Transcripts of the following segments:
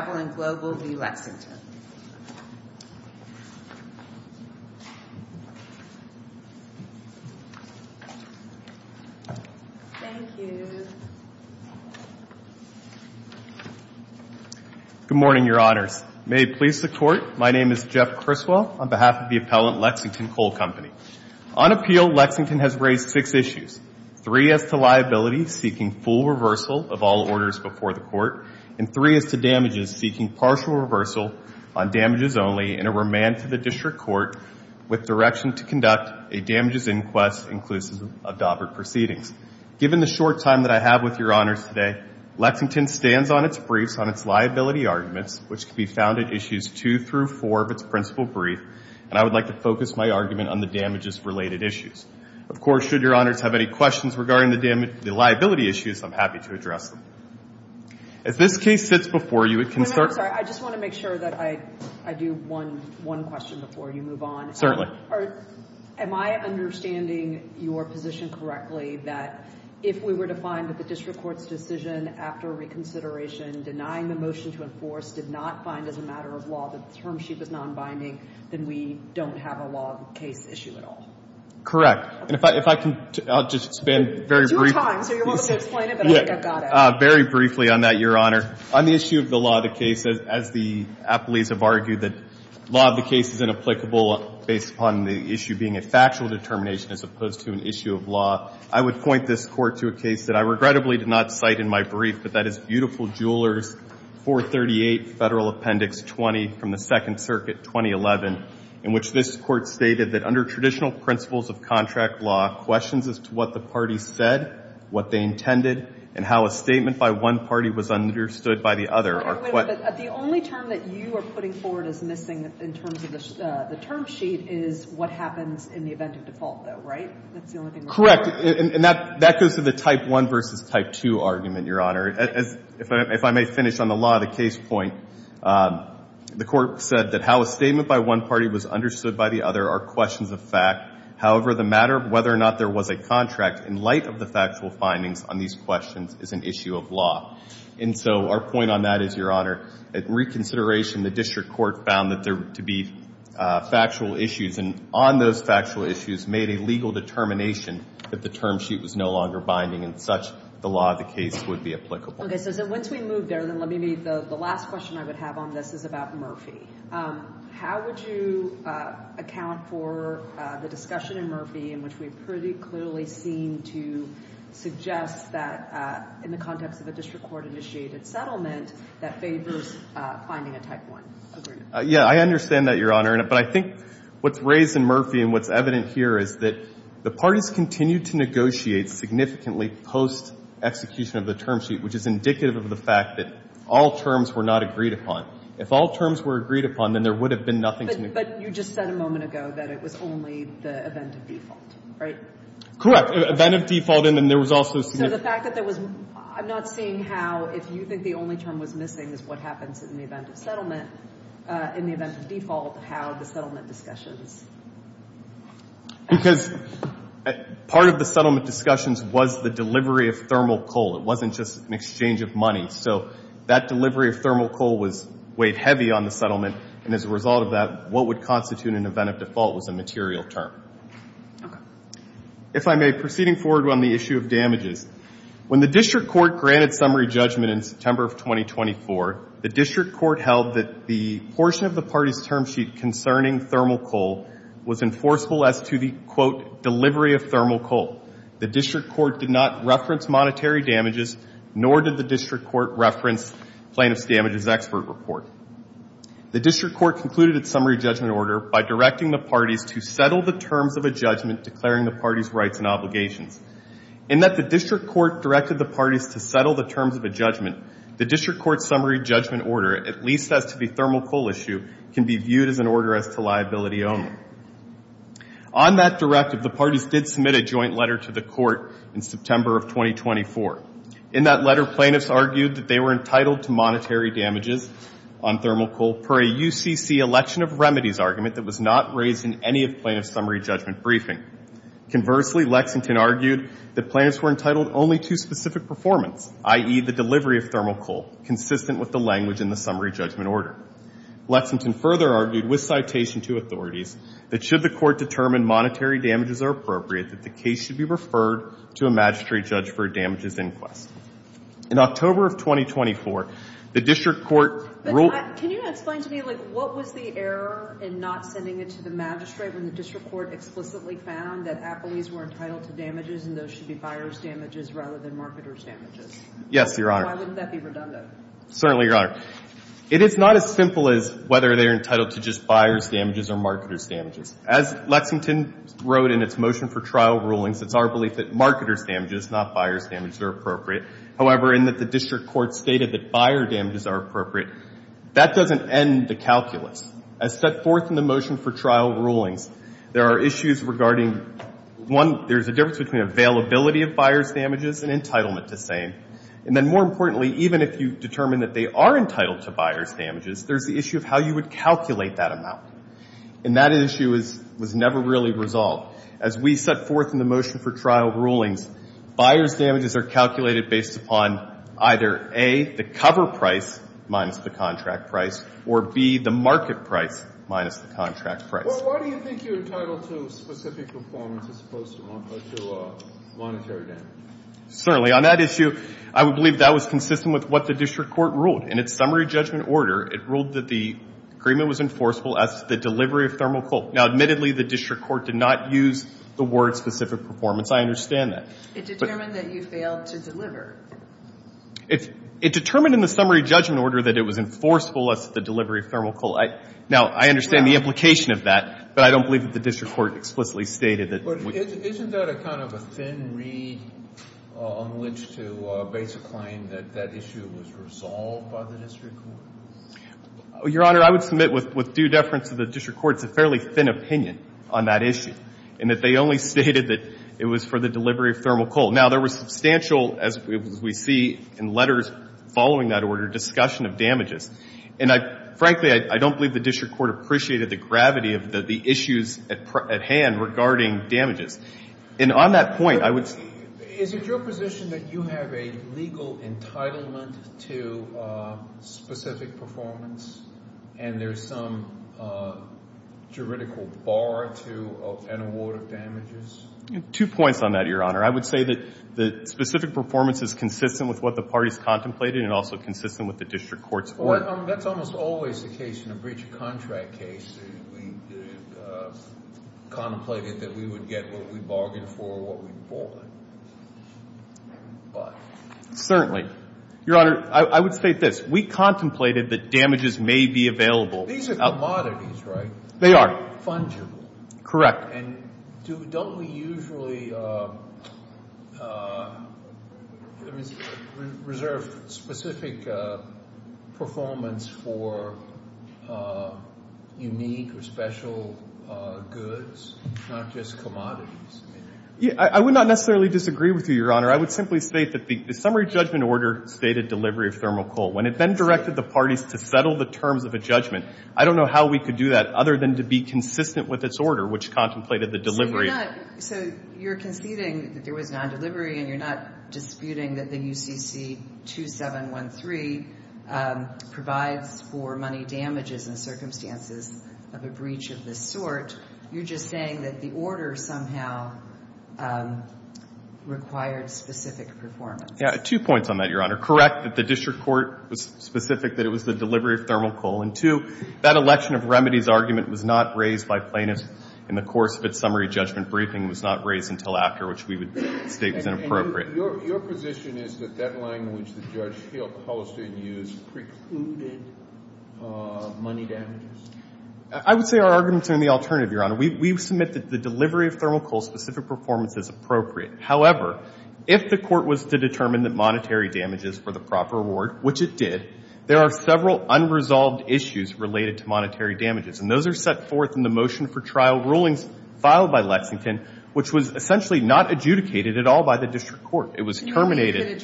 Good morning, Your Honors. May it please the Court, my name is Jeff Criswell, on behalf of the appellant, Lexington Coal Company. On appeal, Lexington has raised six issues. Three as to liability, seeking full reversal of all orders before the Court, and three as to damages, seeking partial reversal on damages only, and a remand to the District Court with direction to conduct a damages inquest inclusive of DABURT proceedings. Given the short time that I have with Your Honors today, Lexington stands on its briefs on its liability arguments, which can be found in issues 2 through 4 of its principal brief, and I would like to focus my argument on the damages-related issues. Of course, should Your Honors have any questions regarding the liability issues, I'm happy to address them. If this case sits before you, it can start... Wait a minute, I'm sorry. I just want to make sure that I do one question before you move on. Certainly. Am I understanding your position correctly that if we were to find that the District Court's decision after reconsideration denying the motion to enforce did not find as a matter of law that the term sheet was non-binding, then we don't have a law case issue at all? Correct. And if I can, I'll just expand very briefly... Very briefly on that, Your Honor. On the issue of the law of the case, as the appellees have argued that law of the case is inapplicable based upon the issue being a factual determination as opposed to an issue of law, I would point this Court to a case that I regrettably did not cite in my brief, but that is Beautiful Jewelers 438 Federal Appendix 20 from the Second Circuit, 2011, in which this Court stated that under traditional principles of contract law, questions as to what the parties said, what they intended, and how a statement by one party was understood by the other are... But the only term that you are putting forward as missing in terms of the term sheet is what happens in the event of default, though, right? That's the only thing... Correct. And that goes to the type 1 versus type 2 argument, Your Honor. If I may finish on the law of the case point, the Court said that how a statement by one party was understood by the other are questions of fact. However, the matter of whether or not there was a contract in light of the factual findings on these questions is an issue of law. And so our point on that is, Your Honor, at reconsideration, the District Court found that there to be factual issues, and on those factual issues made a legal determination that the term sheet was no longer binding, and such the law of the case would be applicable. Okay. So once we move there, then let me make the last question I would have on this is about Murphy. How would you account for the discussion in Murphy in which we pretty clearly seem to suggest that in the context of a District Court-initiated settlement, that favors finding a type 1 agreement? Yeah. I understand that, Your Honor. But I think what's raised in Murphy and what's evident here is that the parties continued to negotiate significantly post-execution of the term sheet, which is indicative of the fact that all terms were not agreed upon. If all terms were agreed upon, then there would have been nothing to negotiate. But you just said a moment ago that it was only the event of default, right? Correct. Event of default, and then there was also... So the fact that there was... I'm not seeing how, if you think the only term was missing is what happens in the event of settlement, in the event of default, how the settlement discussions... Because part of the settlement discussions was the delivery of thermal coal. It wasn't just an exchange of money. So that delivery of thermal coal was weighed heavy on the settlement, and as a result of that, what would constitute an event of default was a material term. Okay. If I may, proceeding forward on the issue of damages, when the District Court granted summary judgment in September of 2024, the District Court held that the portion of the parties' term sheet concerning thermal coal was enforceable as to the, quote, delivery of thermal coal. The District Court did not reference monetary damages, nor did the District Court reference plaintiff's damages expert report. The District Court concluded its summary judgment order by directing the parties to settle the terms of a judgment, declaring the parties' rights and obligations. In that the District Court directed the parties to settle the terms of a judgment, the District Court's summary judgment order, at least as to the thermal coal issue, can be viewed as an order as to liability only. On that directive, the parties did submit a joint letter to the Court in September of 2024. In that letter, plaintiffs argued that they were entitled to monetary damages on thermal coal per a UCC election of remedies argument that was not raised in any of plaintiff's summary judgment briefing. Conversely, Lexington argued that plaintiffs were entitled only to specific performance, i.e., the delivery of thermal coal, consistent with the language in the summary judgment order. Lexington further argued with citation to authorities that should the Court determine monetary damages are appropriate, that the case should be referred to a magistrate judge for damages inquest. In October of 2024, the District Court ruled Can you explain to me, like, what was the error in not sending it to the magistrate when the District Court explicitly found that appellees were entitled to damages and those should be buyer's damages rather than marketer's damages? Yes, Your Honor. Why wouldn't that be redundant? Certainly, Your Honor. It is not as simple as whether they're entitled to just buyer's damages or marketer's damages. As Lexington wrote in its motion for trial rulings, it's our belief that marketer's damages, not buyer's damages, are appropriate. However, in that the District Court stated that buyer's damages are appropriate, that doesn't end the calculus. As set forth in the motion for trial rulings, there are issues regarding, one, there's a difference between availability of buyer's damages and entitlement to same. And then more importantly, even if you determine that they are entitled to buyer's damages, there's the issue of how you would calculate that amount. And that issue was never really resolved. As we set forth in the motion for trial rulings, buyer's damages are calculated based upon either, A, the cover price minus the contract price, or, B, the market price minus the contract price. Well, why do you think you're entitled to specific performance as opposed to monetary damages? Certainly. On that issue, I would believe that was consistent with what the District Court stated in the summary judgment order. It ruled that the agreement was enforceable as to the delivery of thermal coal. Now, admittedly, the District Court did not use the word specific performance. I understand that. It determined that you failed to deliver. It determined in the summary judgment order that it was enforceable as to the delivery of thermal coal. Now, I understand the implication of that, but I don't believe that the District Court explicitly stated that. But isn't that a kind of a thin reed on which to base a claim that that issue was resolved by the District Court? Your Honor, I would submit with due deference to the District Court, it's a fairly thin opinion on that issue, in that they only stated that it was for the delivery of thermal coal. Now, there was substantial, as we see in letters following that order, discussion of damages. And I, frankly, I don't believe the District Court appreciated the gravity of the issues at hand regarding damages. And on that point, I would Is it your position that you have a legal entitlement to specific performance and there's some juridical bar to an award of damages? Two points on that, Your Honor. I would say that specific performance is consistent with what the parties contemplated and also consistent with the District Court's order. Well, that's almost always the case in a breach of contract case. We contemplated that we would get what we bargained for, what we bought. Certainly. Your Honor, I would state this. We contemplated that damages may be available. These are commodities, right? They are. Fungible. Correct. And don't we usually reserve specific performance for unique or special goods, not just commodities? I would not necessarily disagree with you, Your Honor. I would simply state that the summary judgment order stated delivery of thermal coal. When it then directed the parties to settle the terms of a judgment, I don't know how we could do that other than to be consistent with its order, which contemplated the delivery. So you're conceding that there was non-delivery, and you're not disputing that the UCC 2713 provides for money damages and circumstances of a breach of this sort. You're just saying that the order somehow required specific performance. Yeah. Two points on that, Your Honor. Correct that the District Court was specific that it was the delivery of thermal coal. And two, that election of remedies argument was not raised by plaintiffs in the course of its summary judgment briefing. It was not raised until after, which we would state was inappropriate. And your position is that that line which the judge held Holstein used precluded money damages? I would say our arguments are in the alternative, Your Honor. We submit that the delivery of thermal coal specific performance is appropriate. However, if the court was to determine that monetary damages were the proper reward, which it did, there are several unresolved issues related to monetary damages. And those are set forth in the motion for trial rulings filed by Lexington, which was essentially not adjudicated at all by the District Court. It was terminated.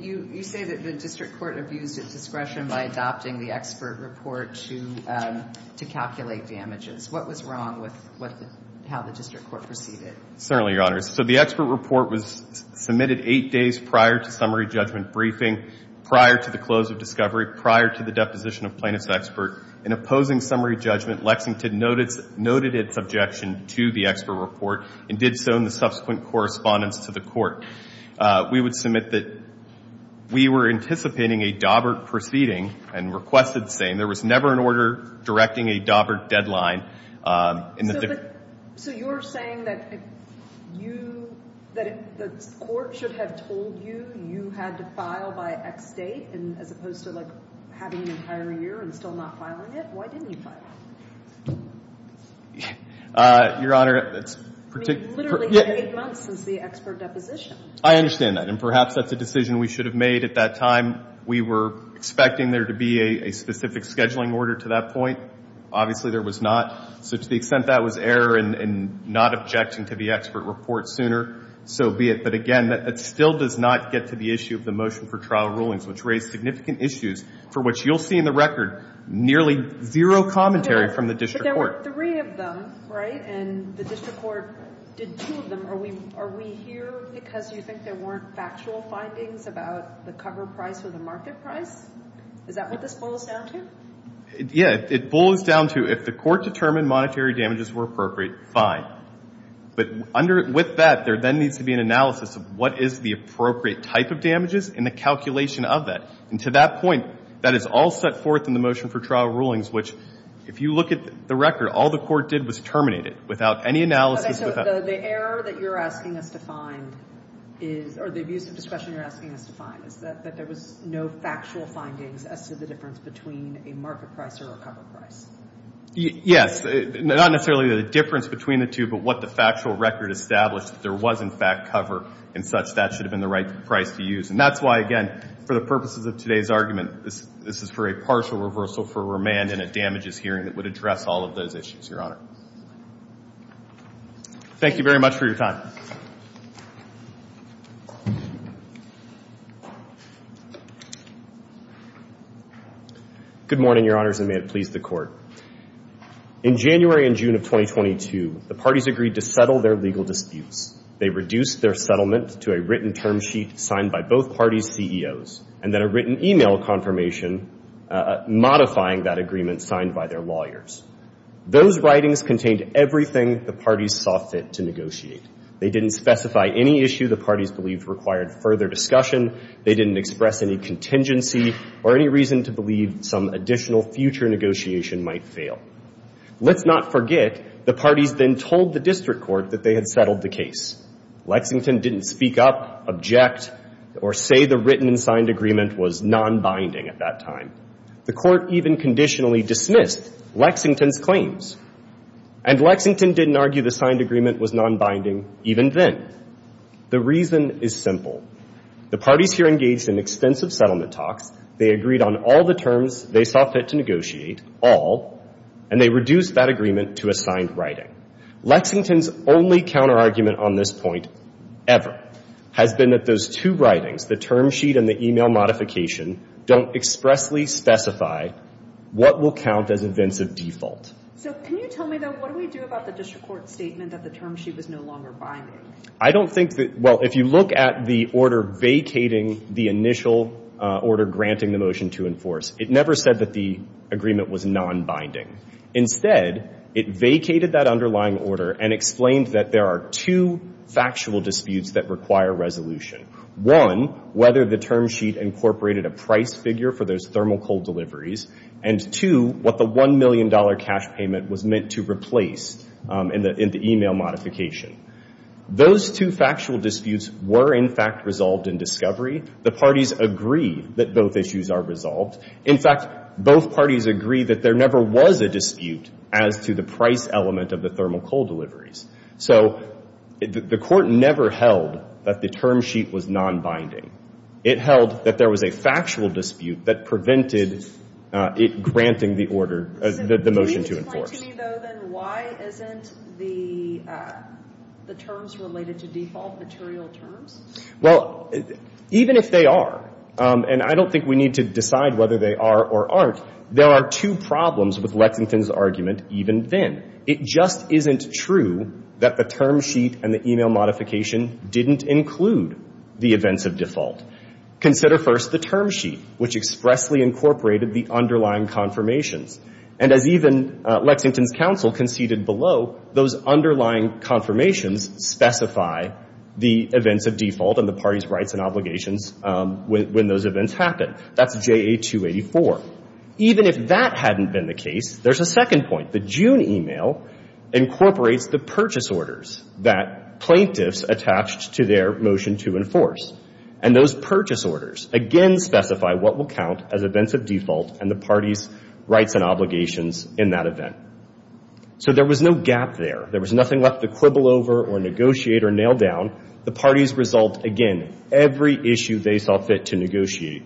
You say that the District Court abused its discretion by adopting the expert report to calculate damages. What was wrong with how the District Court perceived it? Certainly, Your Honor. So the expert report was submitted eight days prior to summary judgment briefing, prior to the close of discovery, prior to the deposition of plaintiff's expert. In opposing summary judgment, Lexington noted its objection to the expert report and did so in the subsequent correspondence to the court. We would submit that we were anticipating a Daubert proceeding and requested the same. There was never an order directing a Daubert deadline. So you're saying that you, that the court should have told you you had to file by X date as opposed to, like, having an entire year and still not filing it? Why didn't you file it? Your Honor, it's particularly I mean, literally eight months since the expert deposition. I understand that. And perhaps that's a decision we should have made at that time. We were expecting there to be a specific scheduling order to that point. Obviously, there was not. So to the extent that was error and not objection to the expert report sooner, so be it. But again, it still does not get to the issue of the motion for trial rulings, which raised significant issues for which you'll see in the record nearly zero commentary from the District Court. But there were three of them, right? And the District Court did two of them. Are we here because you think there weren't factual findings about the cover price or the market price? Is that what this boils down to? Yeah. It boils down to if the court determined monetary damages were appropriate, fine. But with that, there then needs to be an analysis of what is the appropriate type of damages and the calculation of that. And to that point, that is all set forth in the motion for trial rulings, which if you look at the record, all the court did was terminate it without any analysis. Okay. So the error that you're asking us to find is or the abuse of discretion you're asking us to find is that there was no factual findings as to the difference between a market price or a cover price? Yes. Not necessarily the difference between the two, but what the factual record established that there was in fact cover and such that should have been the right price to use. And that's why, again, for the purposes of today's argument, this is for a partial reversal for remand and a damages hearing that would address all of those issues, Your Honor. Thank you very much for your time. Good morning, Your Honors, and may it please the Court. In January and June of 2022, the parties agreed to settle their legal disputes. They reduced their settlement to a written term sheet signed by both parties' CEOs and then a written e-mail confirmation modifying that agreement signed by their lawyers. Those writings contained everything the parties saw fit to negotiate. They didn't specify any issue the parties believed required further discussion. They didn't express any contingency or any reason to believe some additional future negotiation might fail. Let's not forget the parties then told the district court that they had settled the case. Lexington didn't speak up, object, or say the written and signed agreement was nonbinding at that time. The court even conditionally dismissed Lexington's claims. And Lexington didn't argue the signed agreement was nonbinding even then. The reason is simple. The parties here engaged in extensive settlement talks. They agreed on all the terms they saw fit to negotiate, all, and they reduced that agreement to a signed writing. Lexington's only counterargument on this point ever has been that those two writings, the term sheet and the e-mail modification, don't expressly specify what will count as events of default. So can you tell me, though, what do we do about the district court's statement that the term sheet was no longer binding? I don't think that – well, if you look at the order vacating the initial order granting the motion to enforce, it never said that the agreement was nonbinding. Instead, it vacated that underlying order and explained that there are two factual disputes that require resolution. One, whether the term sheet incorporated a price figure for those thermal coal deliveries, and two, what the $1 million cash payment was meant to replace in the e-mail modification. Those two factual disputes were, in fact, resolved in discovery. The parties agree that both issues are resolved. In fact, both parties agree that there never was a dispute as to the price element of the thermal coal deliveries. So the court never held that the term sheet was nonbinding. It held that there was a factual dispute that prevented it granting the order – the motion to enforce. So can you explain to me, though, then, why isn't the terms related to default material terms? Well, even if they are, and I don't think we need to decide whether they are or aren't, there are two problems with Lexington's argument even then. It just isn't true that the term sheet and the e-mail modification didn't include the events of default. Consider first the term sheet, which expressly incorporated the underlying confirmations. And as even Lexington's counsel conceded below, those underlying confirmations specify the events of default and the parties' rights and obligations when those events happen. That's JA-284. So even if that hadn't been the case, there's a second point. The June e-mail incorporates the purchase orders that plaintiffs attached to their motion to enforce. And those purchase orders, again, specify what will count as events of default and the parties' rights and obligations in that event. So there was no gap there. There was nothing left to quibble over or negotiate or nail down. The parties resolved, again, every issue they saw fit to negotiate,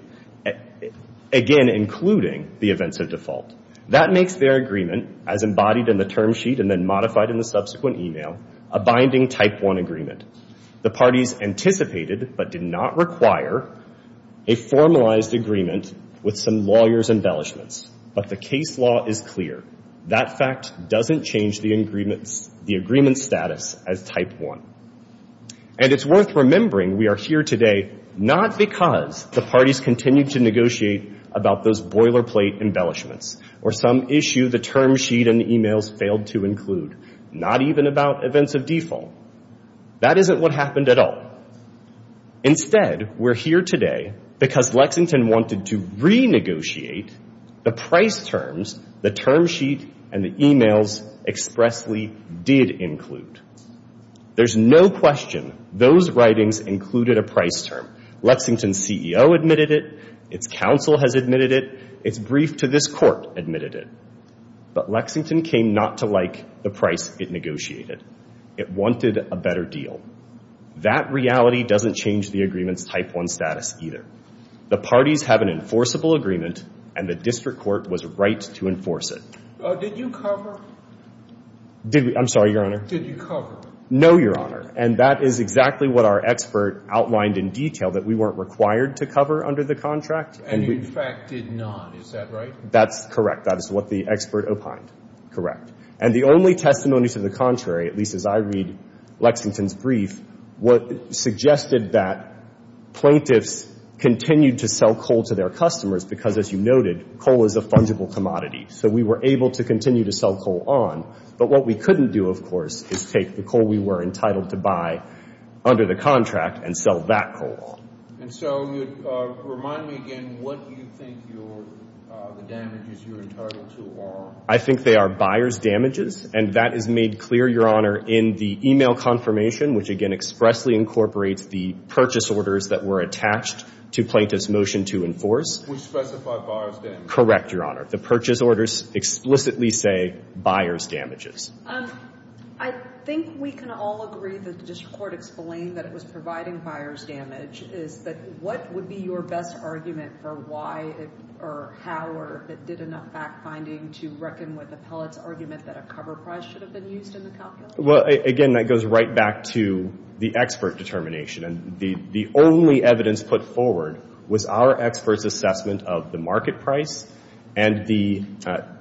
again, including the events of default. That makes their agreement, as embodied in the term sheet and then modified in the subsequent e-mail, a binding Type 1 agreement. The parties anticipated but did not require a formalized agreement with some lawyers' embellishments. But the case law is clear. That fact doesn't change the agreement's status as Type 1. And it's worth remembering we are here today not because the parties continued to negotiate about those boilerplate embellishments or some issue the term sheet and e-mails failed to include, not even about events of default. That isn't what happened at all. Instead, we're here today because Lexington wanted to renegotiate the price terms the term sheet and the e-mails expressly did include. There's no question those writings included a price term. Lexington's CEO admitted it. Its counsel has admitted it. Its brief to this court admitted it. But Lexington came not to like the price it negotiated. It wanted a better deal. That reality doesn't change the agreement's Type 1 status either. The parties have an enforceable agreement, and the district court was right to enforce it. Did you cover? Did we? I'm sorry, Your Honor. Did you cover? No, Your Honor. And that is exactly what our expert outlined in detail that we weren't required to cover under the contract. And you, in fact, did not. Is that right? That's correct. That is what the expert opined. Correct. And the only testimony to the contrary, at least as I read Lexington's brief, suggested that plaintiffs continued to sell coal to their customers because, as you noted, coal is a fungible commodity. So we were able to continue to sell coal on. But what we couldn't do, of course, is take the coal we were entitled to buy under the contract and sell that coal off. And so remind me again what you think the damages you're entitled to are. I think they are buyer's damages. And that is made clear, Your Honor, in the e-mail confirmation, which again expressly incorporates the purchase orders that were attached to plaintiff's motion to enforce. We specified buyer's damages. Correct, Your Honor. The purchase orders explicitly say buyer's damages. I think we can all agree that the district court explained that it was providing buyer's damage. What would be your best argument for why or how or if it did enough fact-finding to reckon with Appellate's argument that a cover price should have been used in the calculation? Well, again, that goes right back to the expert determination. And the only evidence put forward was our experts' assessment of the market price and the—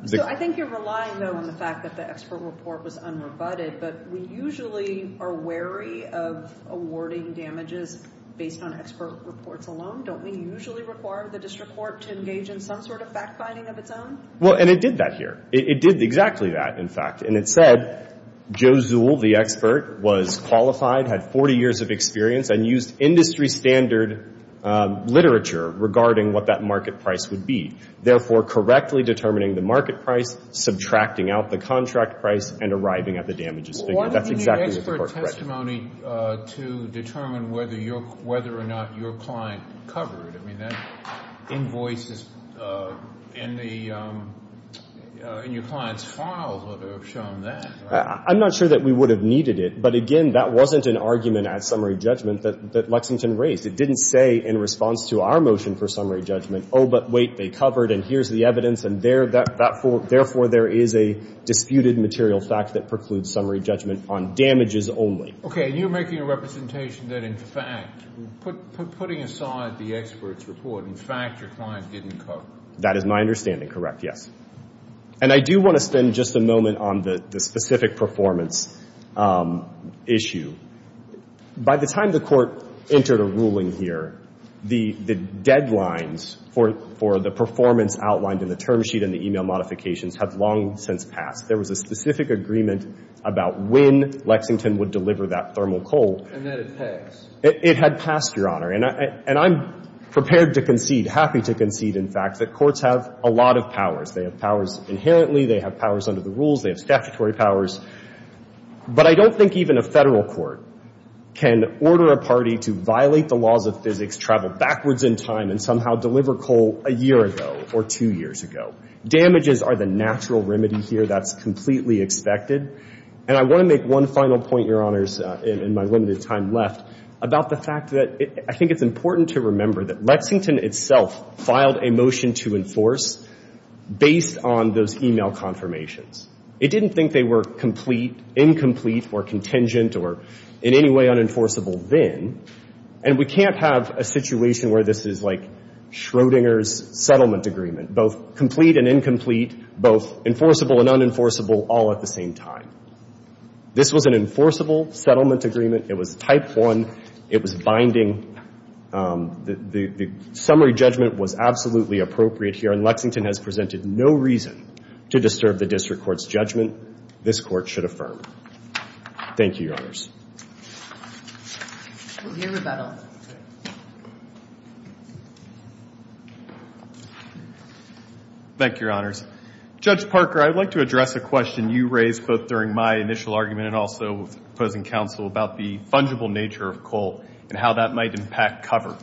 So I think you're relying, though, on the fact that the expert report was unrebutted. But we usually are wary of awarding damages based on expert reports alone. Don't we usually require the district court to engage in some sort of fact-finding of its own? Well, and it did that here. It did exactly that, in fact. And it said Joe Zuhl, the expert, was qualified, had 40 years of experience, and used industry standard literature regarding what that market price would be, therefore correctly determining the market price, subtracting out the contract price, and arriving at the damages figure. That's exactly what the court read. Why didn't you use expert testimony to determine whether or not your client covered? I mean, that invoice is in the — in your client's files would have shown that, right? I'm not sure that we would have needed it. But, again, that wasn't an argument at summary judgment that Lexington raised. It didn't say in response to our motion for summary judgment, oh, but wait, they covered, and here's the evidence, and therefore there is a disputed material fact that precludes summary judgment on damages only. Okay. And you're making a representation that, in fact, putting aside the expert's report, in fact, your client didn't cover. That is my understanding, correct, yes. And I do want to spend just a moment on the specific performance issue. By the time the Court entered a ruling here, the deadlines for the performance outlined in the term sheet and the e-mail modifications have long since passed. There was a specific agreement about when Lexington would deliver that thermal cold. And then it passed. It had passed, Your Honor. And I'm prepared to concede, happy to concede, in fact, that courts have a lot of powers. They have powers inherently. They have powers under the rules. They have statutory powers. But I don't think even a federal court can order a party to violate the laws of physics, travel backwards in time, and somehow deliver coal a year ago or two years ago. Damages are the natural remedy here. That's completely expected. And I want to make one final point, Your Honors, in my limited time left, about the fact that I think it's important to remember that Lexington itself filed a motion to enforce based on those e-mail confirmations. It didn't think they were complete, incomplete, or contingent, or in any way unenforceable then. And we can't have a situation where this is like Schrodinger's settlement agreement, both complete and incomplete, both enforceable and unenforceable all at the same time. This was an enforceable settlement agreement. It was type one. It was binding. The summary judgment was absolutely appropriate here. And Lexington has presented no reason to disturb the district court's judgment. This court should affirm. Thank you, Your Honors. We'll hear rebuttal. Thank you, Your Honors. Judge Parker, I'd like to address a question you raised both during my initial argument and also with opposing counsel about the fungible nature of coal and how that might impact cover.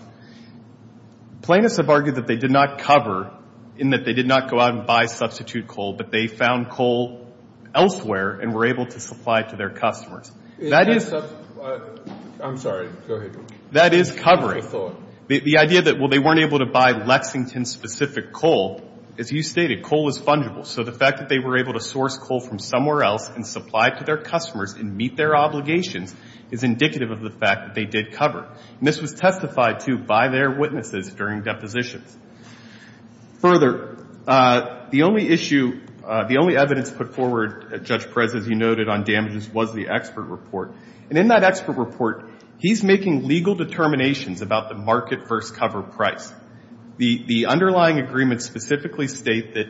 Plaintiffs have argued that they did not cover in that they did not go out and buy substitute coal, but they found coal elsewhere and were able to supply it to their customers. I'm sorry. Go ahead. That is covering. The idea that, well, they weren't able to buy Lexington-specific coal, as you stated, coal is fungible. So the fact that they were able to source coal from somewhere else and supply it to their customers and meet their obligations is indicative of the fact that they did cover. And this was testified to by their witnesses during depositions. Further, the only issue, the only evidence put forward, Judge Perez, as you noted, on damages was the expert report. And in that expert report, he's making legal determinations about the market versus cover price. The underlying agreements specifically state that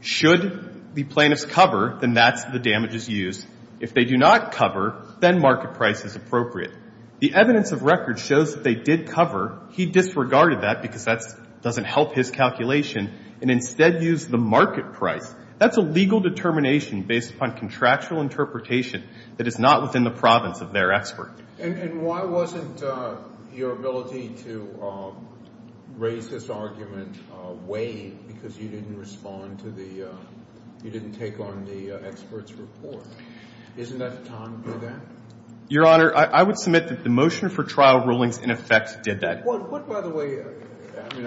should the plaintiffs cover, then that's the damages used. If they do not cover, then market price is appropriate. The evidence of record shows that they did cover. He disregarded that because that doesn't help his calculation and instead used the market price. That's a legal determination based upon contractual interpretation that is not within the province of their expert. And why wasn't your ability to raise this argument weighed because you didn't respond to the – you didn't take on the expert's report? Isn't that the time to do that? Your Honor, I would submit that the motion for trial rulings in effect did that. What, by the way – I mean,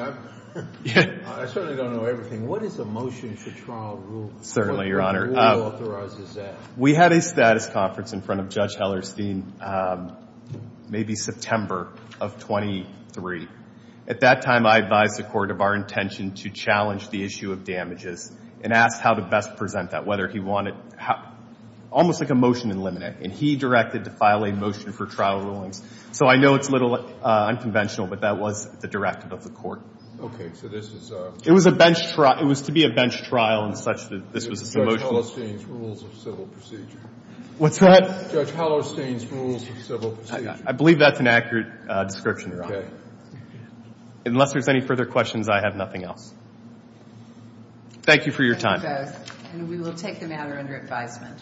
I certainly don't know everything. What is a motion for trial rule? Certainly, Your Honor. What rule authorizes that? We had a status conference in front of Judge Hellerstein maybe September of 2003. At that time, I advised the court of our intention to challenge the issue of damages and asked how to best present that, whether he wanted – almost like a motion in limine. Okay. And he directed to file a motion for trial rulings. So I know it's a little unconventional, but that was the directive of the court. Okay. So this is a – It was a bench – it was to be a bench trial in such that this was a motion. Judge Hellerstein's Rules of Civil Procedure. What's that? Judge Hellerstein's Rules of Civil Procedure. I believe that's an accurate description, Your Honor. Okay. Unless there's any further questions, I have nothing else. Thank you for your time. Thank you both. And we will take the matter under advisement.